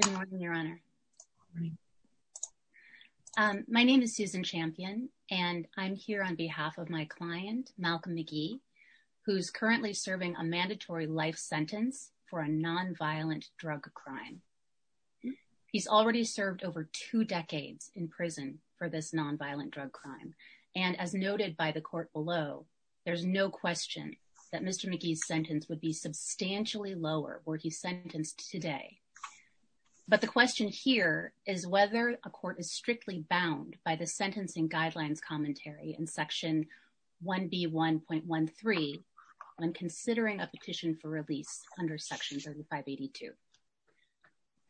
Good morning, your honor. My name is Susan Champion, and I'm here on behalf of my client, Malcolm McGee, who's currently serving a mandatory life sentence for a nonviolent drug crime. He's already served over two decades in prison for this nonviolent drug crime. And as noted by the court below, there's no question that Mr. McGee's sentence would be substantially lower where he's sentenced today. But the question here is whether a court is strictly bound by the sentencing guidelines commentary in section 1B1.13 on considering a petition for release under section 3582.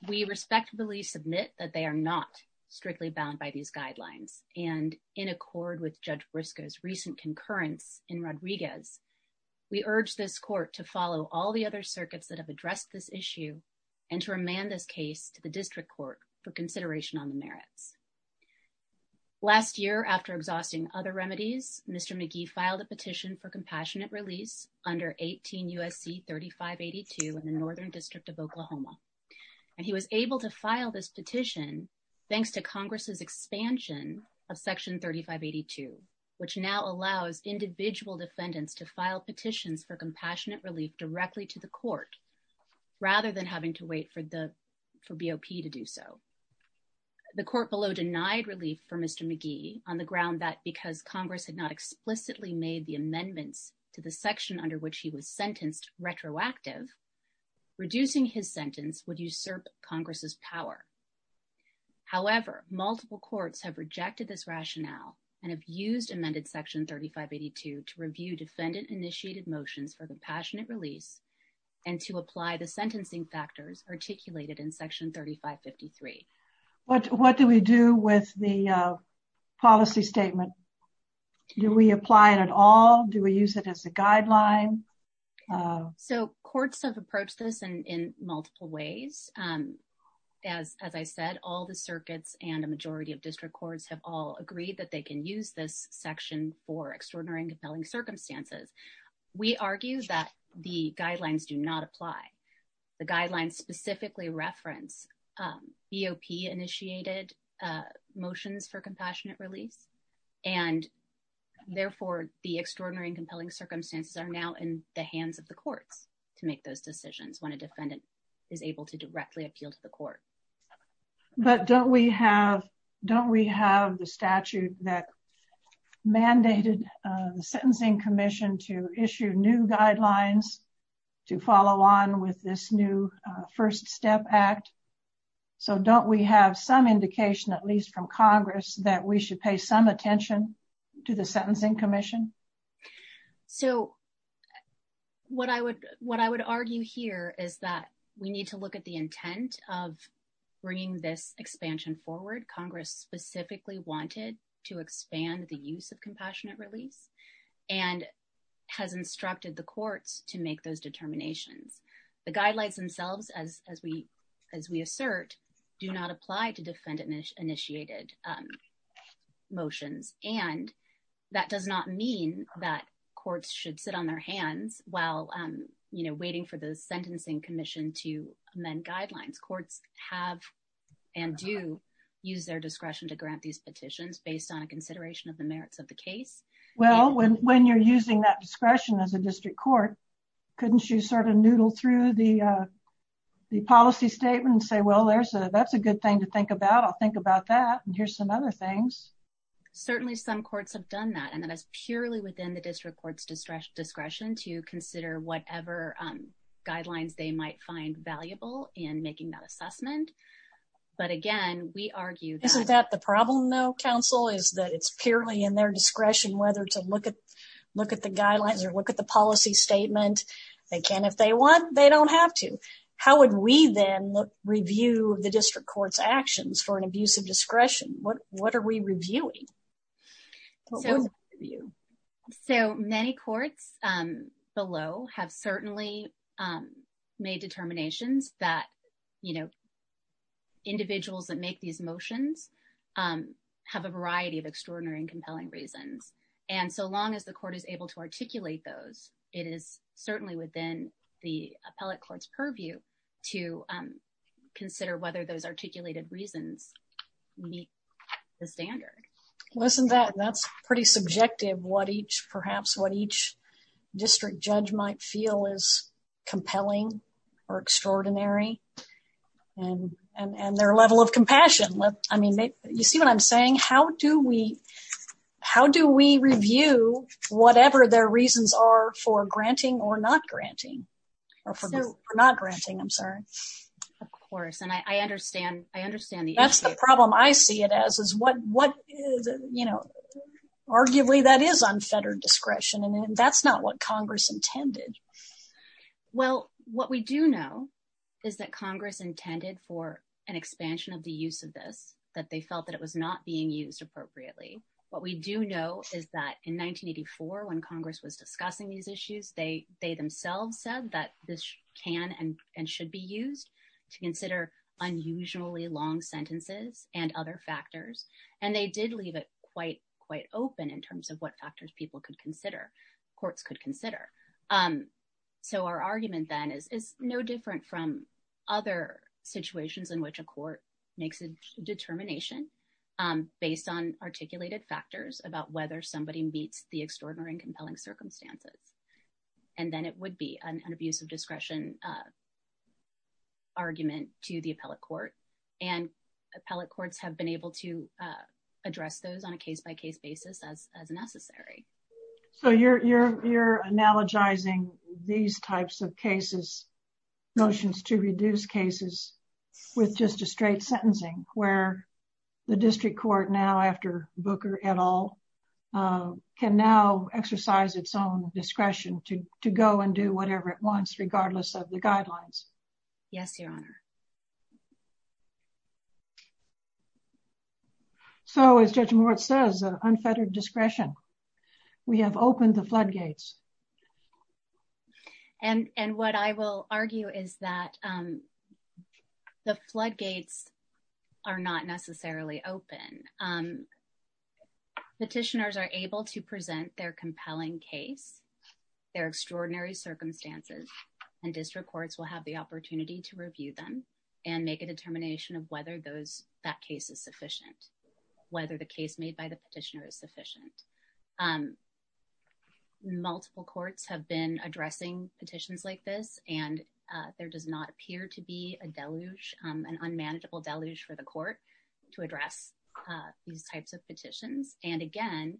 We respectfully submit that they are not strictly bound by these guidelines. And in accord with Judge Briscoe's recent concurrence in Rodriguez, we urge this court to follow all other circuits that have addressed this issue and to remand this case to the district court for consideration on the merits. Last year, after exhausting other remedies, Mr. McGee filed a petition for compassionate release under 18 U.S.C. 3582 in the Northern District of Oklahoma. And he was able to file this petition thanks to Congress's expansion of section 3582, which now allows individual defendants to file petitions for compassionate relief directly to the court rather than having to wait for BOP to do so. The court below denied relief for Mr. McGee on the ground that because Congress had not explicitly made the amendments to the section under which he was sentenced retroactive, reducing his sentence would usurp Congress's power. However, multiple courts have rejected this rationale and have used amended section 3582 to review defendant-initiated motions for compassionate release and to apply the sentencing factors articulated in section 3553. What do we do with the policy statement? Do we apply it at all? Do we use it as a guideline? So courts have approached this in multiple ways and, as I said, all the circuits and a majority of district courts have all agreed that they can use this section for extraordinary and compelling circumstances. We argue that the guidelines do not apply. The guidelines specifically reference BOP-initiated motions for compassionate release and, therefore, the extraordinary and compelling circumstances are now in the hands of the courts to make those decisions when a defendant is able to directly appeal to the court. But don't we have the statute that mandated the Sentencing Commission to issue new guidelines to follow on with this new First Step Act? So don't we have some indication, at least from Congress, that we should pay some attention to the Sentencing Commission? So what I would argue here is that we need to look at the intent of bringing this expansion forward. Congress specifically wanted to expand the use of compassionate release and has instructed the courts to make those determinations. The guidelines themselves, as we assert, do not apply to defendant-initiated motions and that does not mean that courts should sit on their hands while waiting for the Sentencing Commission to amend guidelines. Courts have and do use their discretion to grant these petitions based on a consideration of the merits of the case. Well, when you're using that discretion as a district court, couldn't you sort of noodle through the policy statement and say, well, that's a good thing to think about, I'll think about that, and here's some other things? Certainly some courts have done that and that is purely within the district court's discretion to consider whatever guidelines they might find valuable in making that assessment. But again, we argue that... Isn't that the problem, though, counsel, is that it's purely in their discretion whether to look at the guidelines or look at the policy statement? They can if they want, they don't have to. How would we then review the district court's actions for an abuse of discretion? What are we reviewing? So many courts below have certainly made determinations that, you know, individuals that make these motions have a variety of extraordinary and compelling reasons. And so long as the court is able to articulate those, it is certainly within the appellate court's purview to consider whether those articulated reasons meet the standard. Listen to that, that's pretty subjective what each perhaps what each district judge might feel is compelling or extraordinary and their level of compassion. I mean, you see what I'm saying? How do we, how do we review whatever their reasons are for granting or not granting? Or for not granting, I'm sorry. Of course, and I understand, I understand the issue. That's the problem I see it as is what, what is, you know, arguably that is unfettered discretion and that's not what Congress intended. Well, what we do know is that Congress intended for an expansion of the appellate court's discretion to consider long sentences and other factors. And they did leave it quite, quite open in terms of what factors people could consider, courts could consider. So our argument then is no different from other situations in which a court makes a determination based on articulated factors about whether somebody meets the extraordinary and compelling circumstances. And then it would be an abuse of discretion argument to the appellate court. And appellate courts have been able to address those on a case by case basis as necessary. So you're, you're, you're analogizing these types of cases, notions to reduce cases with just a straight sentencing where the district court now after Booker et al can now exercise its own discretion to, to go and do whatever it wants, regardless of the guidelines. Yes, Your Honor. So as Judge Moritz says, unfettered discretion, we have opened the floodgates. And, and what I will argue is that the floodgates are not necessarily open. Petitioners are able to present their compelling case, their extraordinary circumstances, and district courts will have the opportunity to review them and make a determination of whether those, that case is sufficient, whether the case made by the petitioner is sufficient. Multiple courts have been addressing petitions like this, and there does not appear to be a deluge, an unmanageable deluge for the court to address these types of petitions. And again,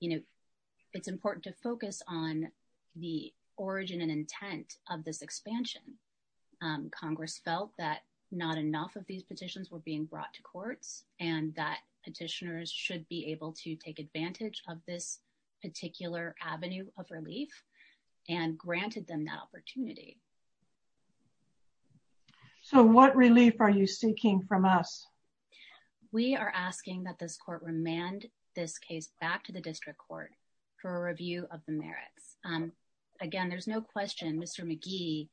you know, it's important to focus on the origin and intent of this expansion. Congress felt that not enough of these petitions were being brought to courts and that petitioners should be able to take advantage of this particular avenue of relief and granted them that opportunity. So what relief are you seeking from us? We are asking that this court remand this case back to the district court for a review of the merits. Again, there's no question Mr. McGee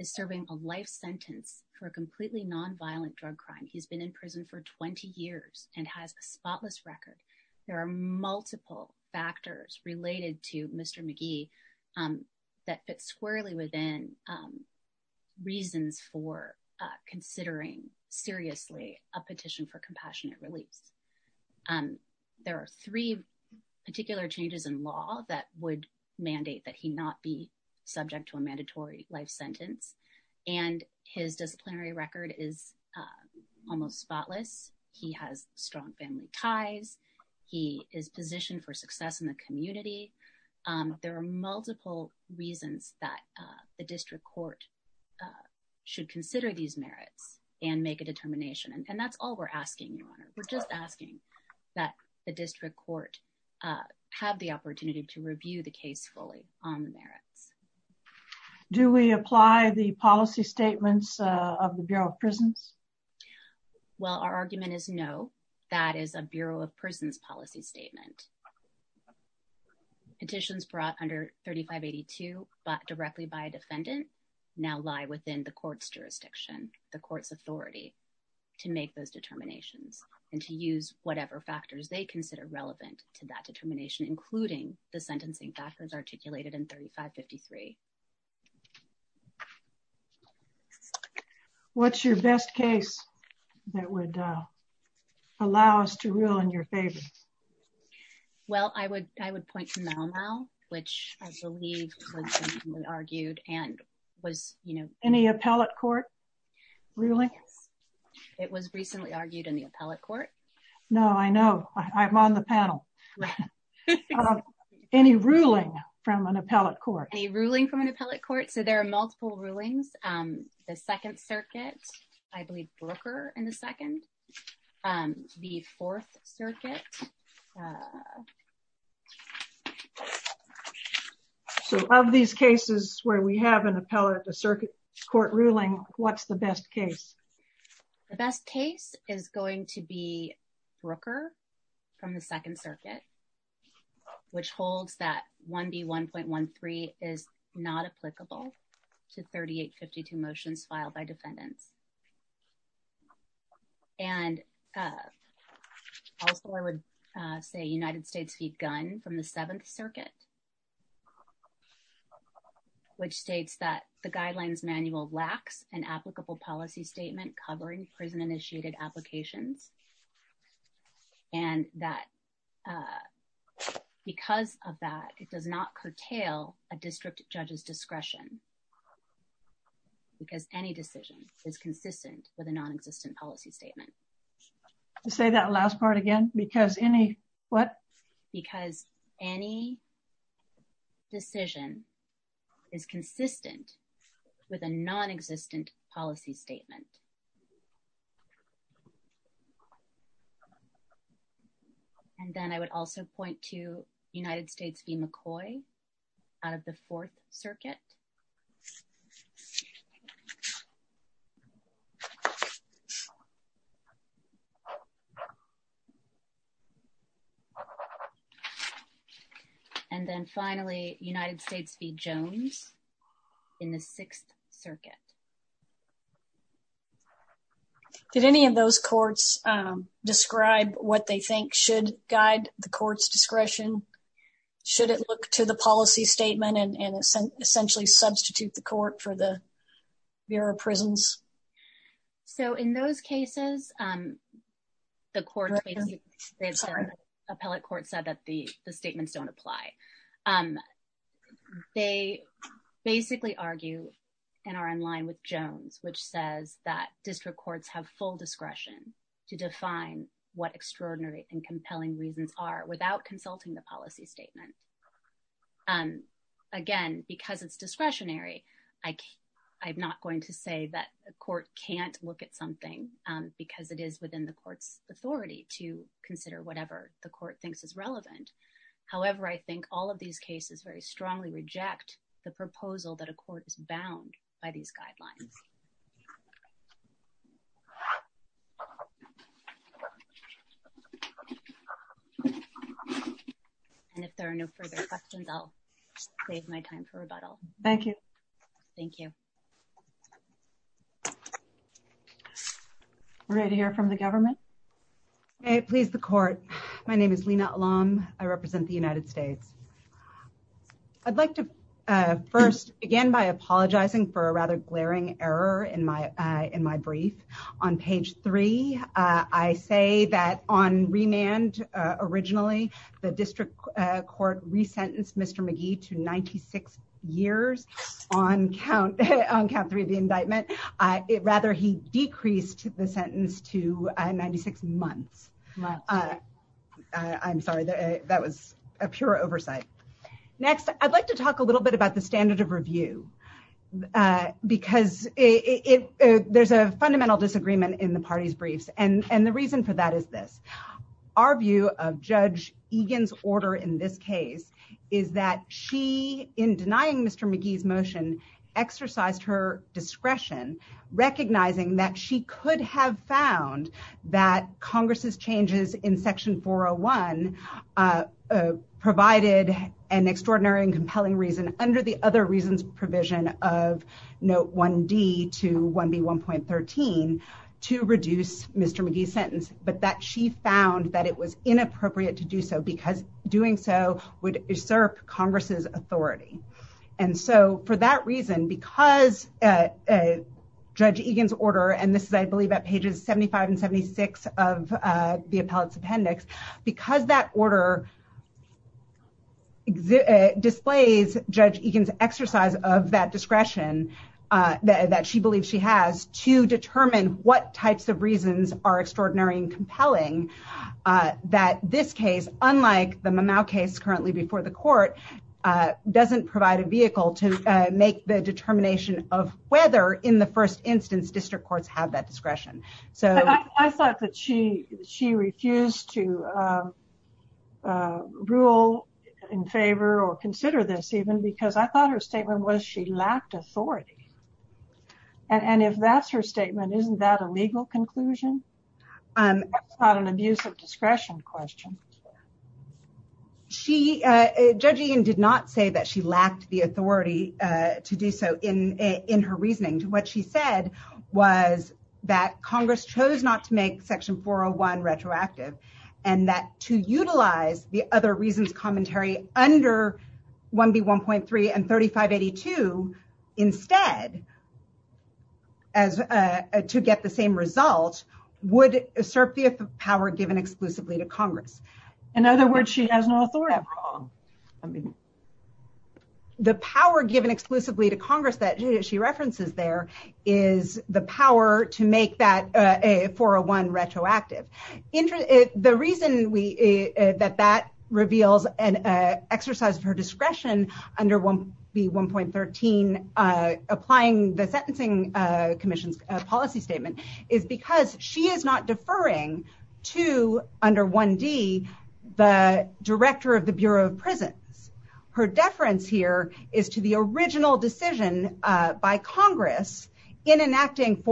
is serving a life sentence for a completely nonviolent drug crime. He's been in prison for 20 years and has a spotless record. There are multiple factors related to Mr. McGee that fit squarely within reasons for considering seriously a petition for compassionate relief. There are three particular changes in law that would mandate that he not be subject to a mandatory life sentence, and his disciplinary record is almost spotless. He has strong family ties. He is positioned for success in the community. There are multiple reasons that the district court should consider these merits and make a determination. And that's all we're asking, Your Honor. We're just asking that the district court have the opportunity to review the case fully on the merits. Do we apply the policy statements of the Bureau of Prisons? Well, our argument is no. That is a Bureau of Prisons policy statement. Petitions brought under 3582, but directly by a defendant, now lie within the court's jurisdiction, the court's authority to make those determinations and to use whatever factors they consider relevant to that determination, including the sentencing factors articulated in 3553. What's your best case that would allow us to rule in your favor? Well, I would point to Mau Mau, which I believe was argued and was, you know... Any appellate court ruling? It was recently argued in the appellate court. No, I know. I'm on the panel. Any ruling from an appellate court? Any ruling from an appellate court? So there are multiple rulings. The Second Circuit, I believe, Brooker in the Second. The Fourth Circuit... So of these cases where we have an appellate court ruling, what's the best case? The best case is going to be Brooker from the Second Circuit, which holds that 1B.1.13 is not applicable to 3852 motions filed by defendants. And also, I would say United States v. Gunn from the Seventh Circuit, which states that the guidelines manual lacks an applicable policy statement covering prison because of that. It does not curtail a district judge's discretion because any decision is consistent with a non-existent policy statement. To say that last part again, because any what? Because any decision is consistent with a non-existent policy statement. And then I would also point to United States v. McCoy out of the Fourth Circuit. And then finally, United States v. Jones in the Sixth Circuit. Did any of those courts describe what they think should guide the court's discretion? Should it look to the policy statement and essentially substitute the court for the Bureau of Prisons? So in those cases, the appellate court said that the statements don't apply. And they basically argue and are in line with Jones, which says that district courts have full discretion to define what extraordinary and compelling reasons are without consulting the policy statement. And again, because it's discretionary, I'm not going to say that a court can't look at something because it is within the court's authority to consider whatever the court has to say. I think all of these cases very strongly reject the proposal that a court is bound by these guidelines. And if there are no further questions, I'll save my time for rebuttal. Thank you. Thank you. Ready to hear from the government? May it please the court. My name is Lena Alam. I represent the United States. I'd like to first begin by apologizing for a rather glaring error in my brief. On page three, I say that on remand, originally, the district court resentenced Mr. McGee to 96 years on count three of the indictment. Rather, he decreased the sentence to 96 months. I'm sorry, that was a pure oversight. Next, I'd like to talk a little bit about the standard of review, because there's a fundamental disagreement in the party's briefs. And the reason for that is this. Our view of Judge Egan's order in this case is that she, in denying Mr. McGee's motion, exercised her discretion, recognizing that she could have found that Congress's changes in provided an extraordinary and compelling reason under the other reasons provision of Note 1D to 1B1.13 to reduce Mr. McGee's sentence, but that she found that it was inappropriate to do so, because doing so would usurp Congress's authority. And so for that reason, because Judge Egan's order, and this is, I believe, at pages 75 and 76 of the appellate's appendix, because that order displays Judge Egan's exercise of that discretion that she believes she has to determine what types of reasons are extraordinary and compelling, that this case, unlike the Mamau case currently before the court, doesn't provide a vehicle to make the determination of whether, in the first instance, district courts have that discretion. So... I'm not going to rule in favor or consider this even because I thought her statement was she lacked authority. And if that's her statement, isn't that a legal conclusion? That's not an abuse of discretion question. She, Judge Egan did not say that she lacked the authority to do so in her reasoning. What she said was that Congress chose not to make Section 401 retroactive, and that to utilize the other reasons commentary under 1B1.3 and 3582 instead, to get the same result, would usurp the power given exclusively to Congress. In other words, she has no authority at all. I mean, the power given exclusively to Congress that she references there is the power to make that 401 retroactive. The reason that that reveals an exercise of her discretion under 1B1.13, applying the Sentencing Commission's policy statement, is because she is not deferring to, under 1D, the Director of the Bureau of Prisons. Her deference here is to the original decision by Congress in enacting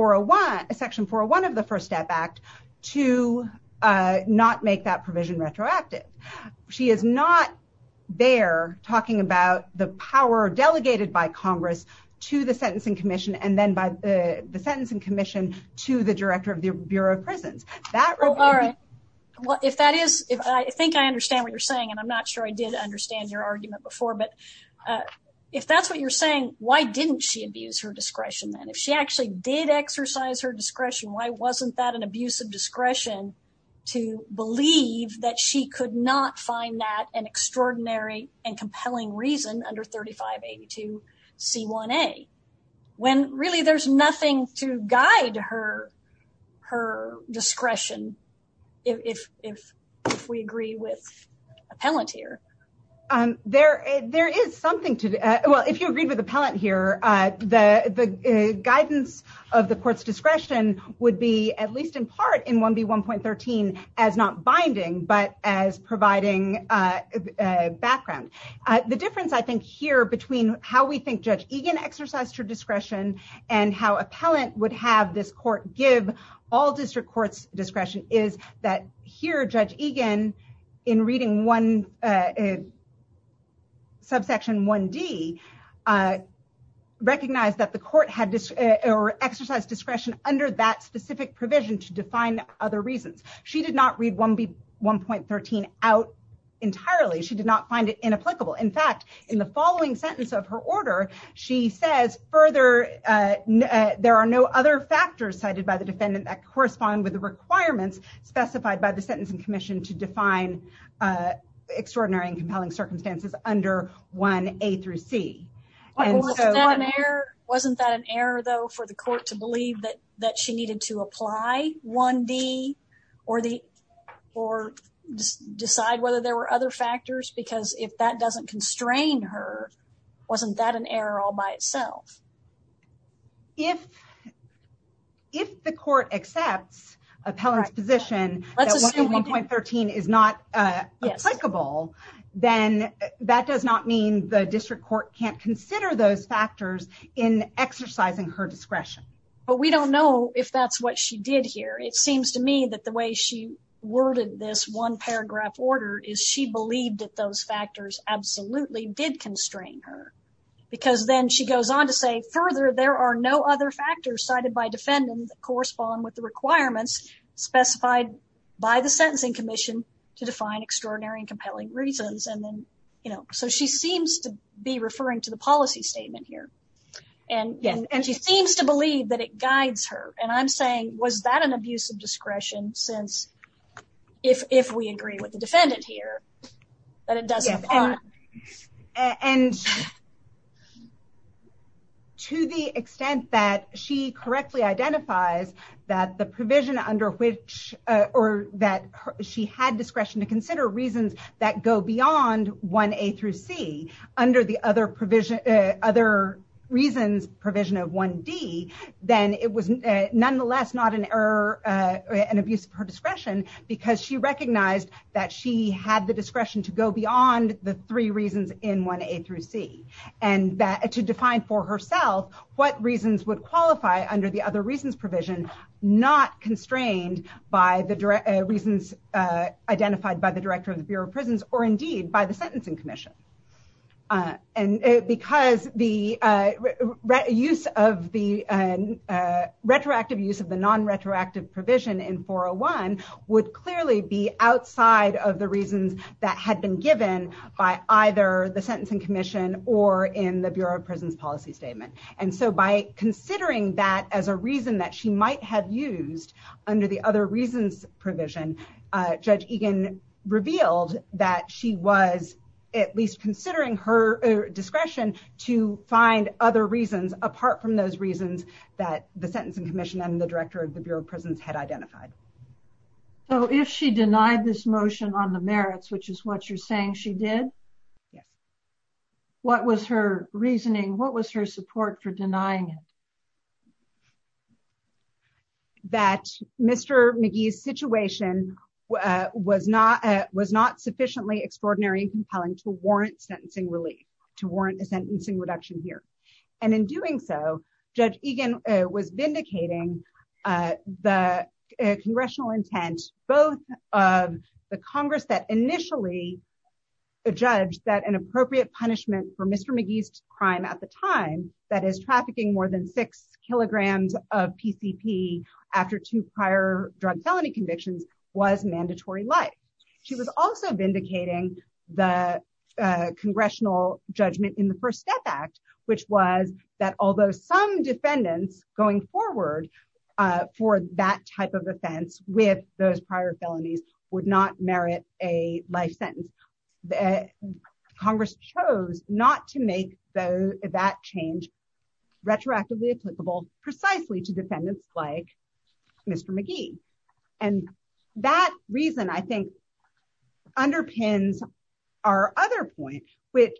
Section 401 of the First Step Act to not make that provision retroactive. She is not there talking about the power delegated by Congress to the Sentencing Commission and then the Sentencing Commission to the Director of the Bureau of Prisons. Oh, all right. Well, if that is, if I think I understand what you're saying, and I'm not sure I did understand your argument before, but if that's what you're saying, why didn't she abuse her discretion then? If she actually did exercise her discretion, why wasn't that an abuse of discretion to believe that she could not find that an extraordinary and compelling reason under 3582 C1a, when really there's nothing to guide her discretion if we agree with appellant here? There is something to, well, if you agreed with appellant here, the guidance of the court's discretion would be at least in part in 1B1.13 as not binding, but as providing a background. The difference I think here between how we think Judge Egan exercised her discretion and how appellant would have this court give all district courts discretion is that here, Judge Egan in reading subsection 1D recognized that the court had exercised discretion under that specific provision to define other reasons. She did not read 1B1.13 out entirely. She did not find it inapplicable. In fact, in the following sentence of her order, she says further, there are no other factors cited by the defendant that correspond with the requirements specified by the Sentencing Commission to define extraordinary and compelling circumstances under 1A through C. Wasn't that an error though for the court to believe that she needed to apply 1D or decide whether there were other factors because if that doesn't constrain her, wasn't that an error all by itself? If the court accepts appellant's position that 1B1.13 is not applicable, then that does not mean the district court can't consider those factors in exercising her discretion. But we don't know if that's what she did here. It seems to me that the way she worded this one paragraph order is she believed that those factors absolutely did constrain her because then she goes on to say further, there are no other factors cited by defendants that correspond with the requirements specified by the Sentencing Commission to define extraordinary and compelling reasons. So she seems to be referring to the policy statement here and she seems to believe that guides her and I'm saying was that an abuse of discretion since if we agree with the defendant here that it doesn't apply. And to the extent that she correctly identifies that the provision under which or that she had discretion to consider reasons that go beyond 1A through C under the other reasons provision of 1D, then it was nonetheless not an error, an abuse of her discretion because she recognized that she had the discretion to go beyond the three reasons in 1A through C and that to define for herself what reasons would qualify under the other reasons provision not constrained by the reasons identified by the director of the Bureau of and because the retroactive use of the non-retroactive provision in 401 would clearly be outside of the reasons that had been given by either the Sentencing Commission or in the Bureau of Prisons Policy Statement. And so by considering that as a reason that she might have used under the other reasons provision, Judge Egan revealed that she was at least considering her discretion to find other reasons apart from those reasons that the Sentencing Commission and the Director of the Bureau of Prisons had identified. So if she denied this motion on the merits, which is what you're saying she did? Yes. What was her reasoning? What was her support for denying it? That Mr. McGee's situation was not was not sufficiently extraordinary and warrant sentencing relief to warrant a sentencing reduction here. And in doing so, Judge Egan was vindicating the congressional intent both of the Congress that initially judged that an appropriate punishment for Mr. McGee's crime at the time that is trafficking more than six kilograms of PCP after two prior drug felony convictions was mandatory life. She was also vindicating the congressional judgment in the First Step Act, which was that although some defendants going forward for that type of offense with those prior felonies would not merit a life sentence, Congress chose not to make that change retroactively applicable precisely to defendants like Mr. McGee. And that reason, I think, underpins our other point with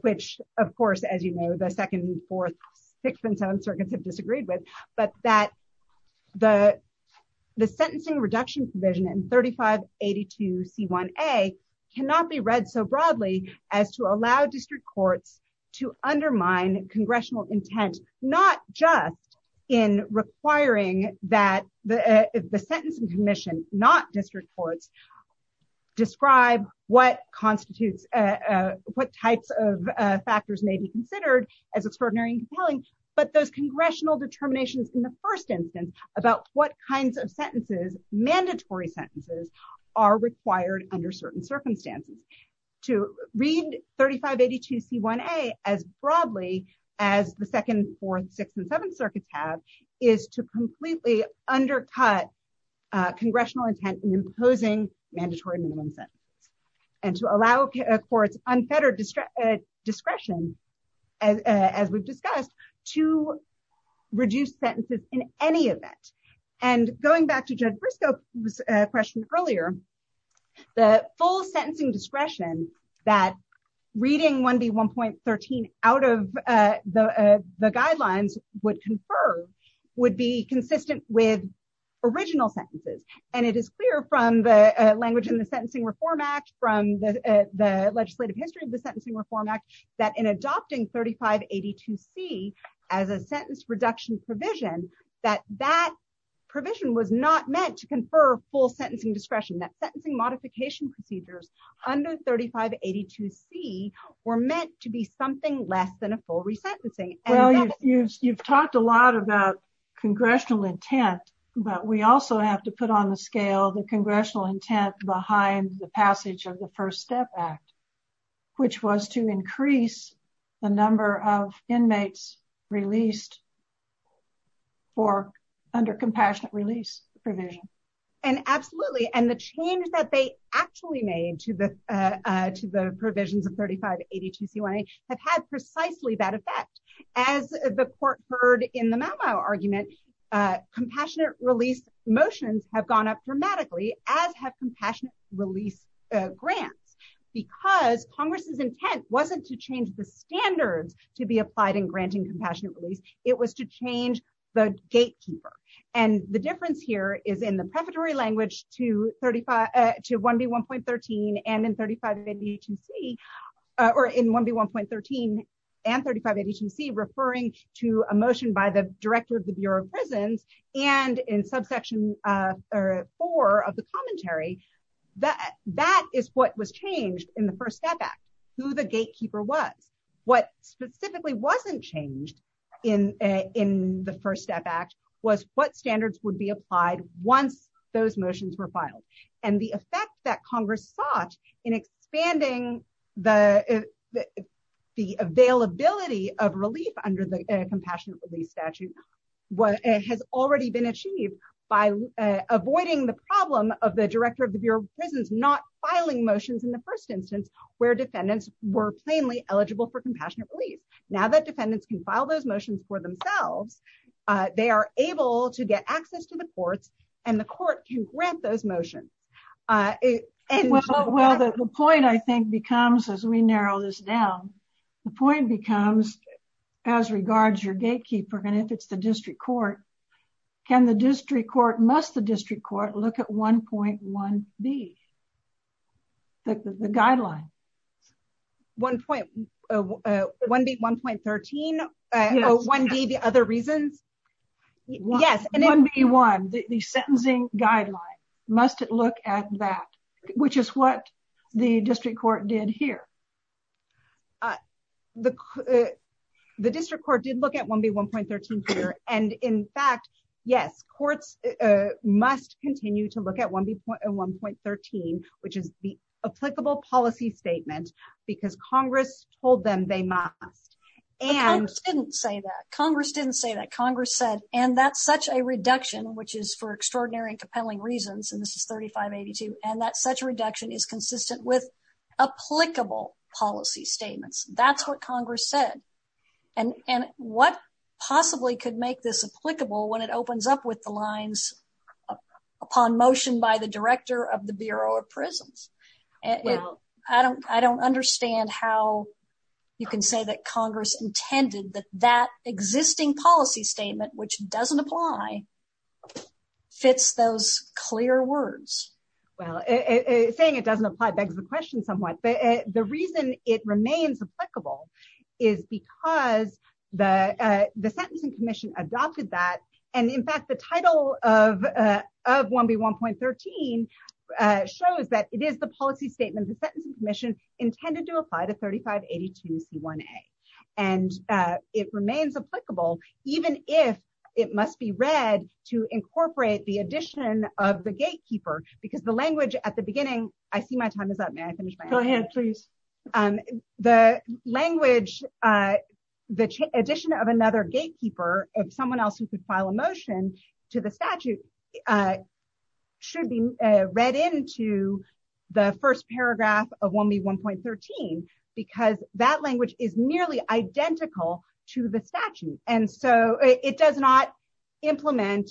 which, of course, as you know, the second, fourth, sixth and seventh circuits have disagreed with, but that the the sentencing reduction provision in 3582 C1A cannot be read so broadly as to allow district courts to undermine congressional intent, not just in requiring that the sentencing commission, not district courts, describe what constitutes what types of factors may be considered as extraordinary and compelling, but those congressional determinations in the first instance about what kinds of sentences, mandatory sentences, are required under certain circumstances. To read 3582 C1A as broadly as the second, fourth, sixth, and seventh circuits have is to completely undercut congressional intent in imposing mandatory minimum sentence and to allow courts unfettered discretion, as we've discussed, to reduce sentences in any event. And going back to Judge Briscoe's question earlier, the full sentencing discretion that reading 1B1.13 out of the guidelines would confer would be consistent with original sentences. And it is clear from the language in the Sentencing Reform Act, from the legislative history of the Sentencing Reform Act, that in adopting 3582 C as a sentence reduction provision, that that provision was not meant to confer full sentencing discretion. That sentencing modification procedures under 3582 C were meant to be something less than a full resentencing. Well, you've talked a lot about congressional intent, but we also have to put on the scale the congressional intent behind the passage of the First Step Act, which was to increase the number of inmates released for under compassionate release provision. And absolutely. And the change that they actually made to the provisions of 3582 C1A have had precisely that effect. As the court heard in the Mau Mau argument, compassionate release motions have gone up dramatically, as have compassionate release grants, because Congress's intent wasn't to change the standards to be applied in granting compassionate release. It was to change the gatekeeper. And the difference here is in the prefatory language to 1B1.13 and in 3582 C, or in 1B1.13 and 3582 C referring to a motion by the was changed in the First Step Act, who the gatekeeper was. What specifically wasn't changed in the First Step Act was what standards would be applied once those motions were filed. And the effect that Congress sought in expanding the availability of relief under the compassionate release statute has already been achieved by avoiding the problem of the director of the Bureau of Prisons not filing motions in the first instance, where defendants were plainly eligible for compassionate release. Now that defendants can file those motions for themselves, they are able to get access to the courts, and the court can grant those motions. Well, the point I think becomes as we narrow this down, the point becomes, as regards your gatekeeper, and if it's the district court, can the district court must look at 1.1B, the guideline? 1B1.13, 1B the other reasons? Yes, 1B1, the sentencing guideline, must it look at that, which is what the district court did here. The district court did look at 1B1.13 here, and in fact, yes, courts must continue to look at 1B1.13, which is the applicable policy statement, because Congress told them they must. But Congress didn't say that. Congress didn't say that. Congress said, and that's such a reduction, which is for extraordinary and compelling reasons, and this is 3582, and that such a reduction is consistent with applicable policy statements. That's what Congress said, and what possibly could make this applicable when it opens up with the lines, upon motion by the director of the Bureau of Prisons? I don't understand how you can say that Congress intended that that existing policy statement, which doesn't apply, fits those clear words. Well, saying it doesn't apply begs the question somewhat, but the reason it remains applicable is because the sentencing commission adopted that, and in fact, the title of 1B1.13 shows that it is the policy statement the sentencing commission intended to apply to 3582C1A, and it remains applicable even if it must be read to incorporate the addition of the gatekeeper, because the language at the beginning, I see my time is up, may I finish my answer? Go ahead, please. The language, the addition of another gatekeeper, of someone else who could file a motion to the statute, should be read into the first paragraph of 1B1.13, because that language is nearly identical to the statute, and so it does not implement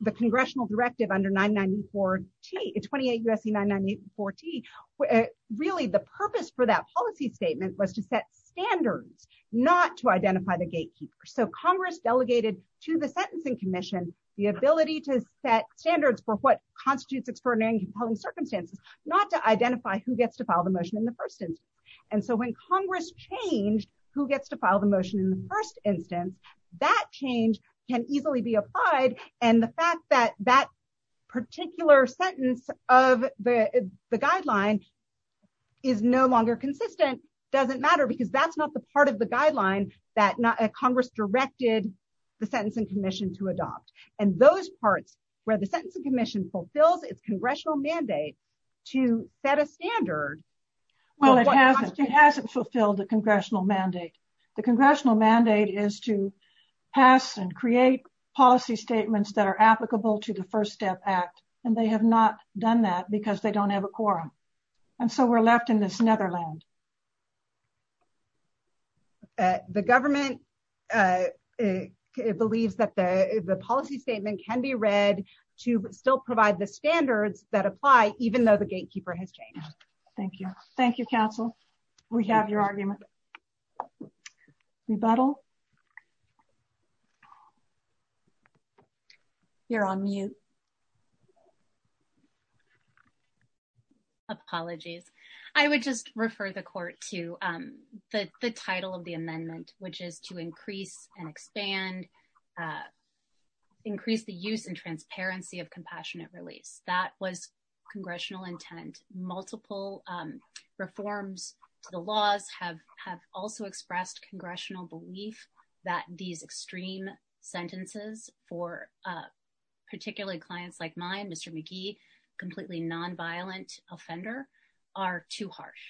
the congressional directive under 994T, 28 U.S.C. 994T. Really, the purpose for that policy statement was to set standards, not to identify the gatekeeper, so Congress delegated to the sentencing commission the ability to set standards for what constitutes extraordinary and who gets to file the motion in the first instance, and so when Congress changed who gets to file the motion in the first instance, that change can easily be applied, and the fact that that particular sentence of the guideline is no longer consistent doesn't matter, because that's not the part of the guideline that Congress directed the sentencing commission to adopt, and those parts where the standard. Well, it hasn't fulfilled the congressional mandate. The congressional mandate is to pass and create policy statements that are applicable to the First Step Act, and they have not done that because they don't have a quorum, and so we're left in this netherland. The government believes that the policy statement can be read to still provide the standards that Thank you. Thank you, counsel. We have your argument. Rebuttal? You're on mute. Apologies. I would just refer the court to the title of the amendment, which is to increase and expand, increase the use and transparency of compassionate release. That was congressional intent. Multiple reforms to the laws have also expressed congressional belief that these extreme sentences for particularly clients like mine, Mr. McGee, completely non-violent offender, are too harsh,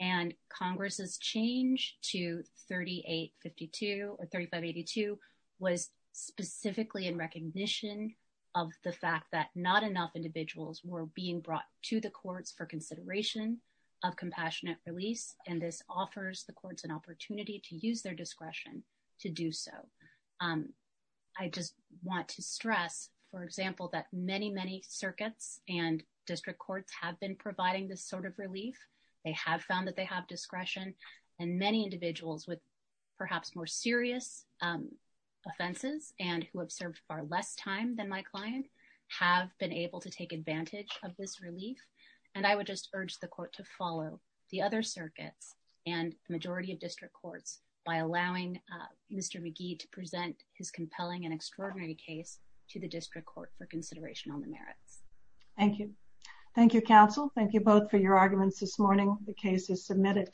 and Congress's change to 3852 or 3582 was specifically in recognition of the fact that not enough individuals were being brought to the courts for consideration of compassionate release, and this offers the courts an opportunity to use their discretion to do so. I just want to stress, for example, that many, many circuits and district courts have been providing this sort of relief. They have found that they have discretion, and many individuals with perhaps more serious offenses and who have served far less time than my client have been able to take advantage of this relief, and I would just urge the court to follow the other circuits and the majority of district courts by allowing Mr. McGee to present his compelling and extraordinary case to the district court for consideration on the merits. Thank you. Thank you, counsel. Thank you both for your arguments this morning. The case is submitted.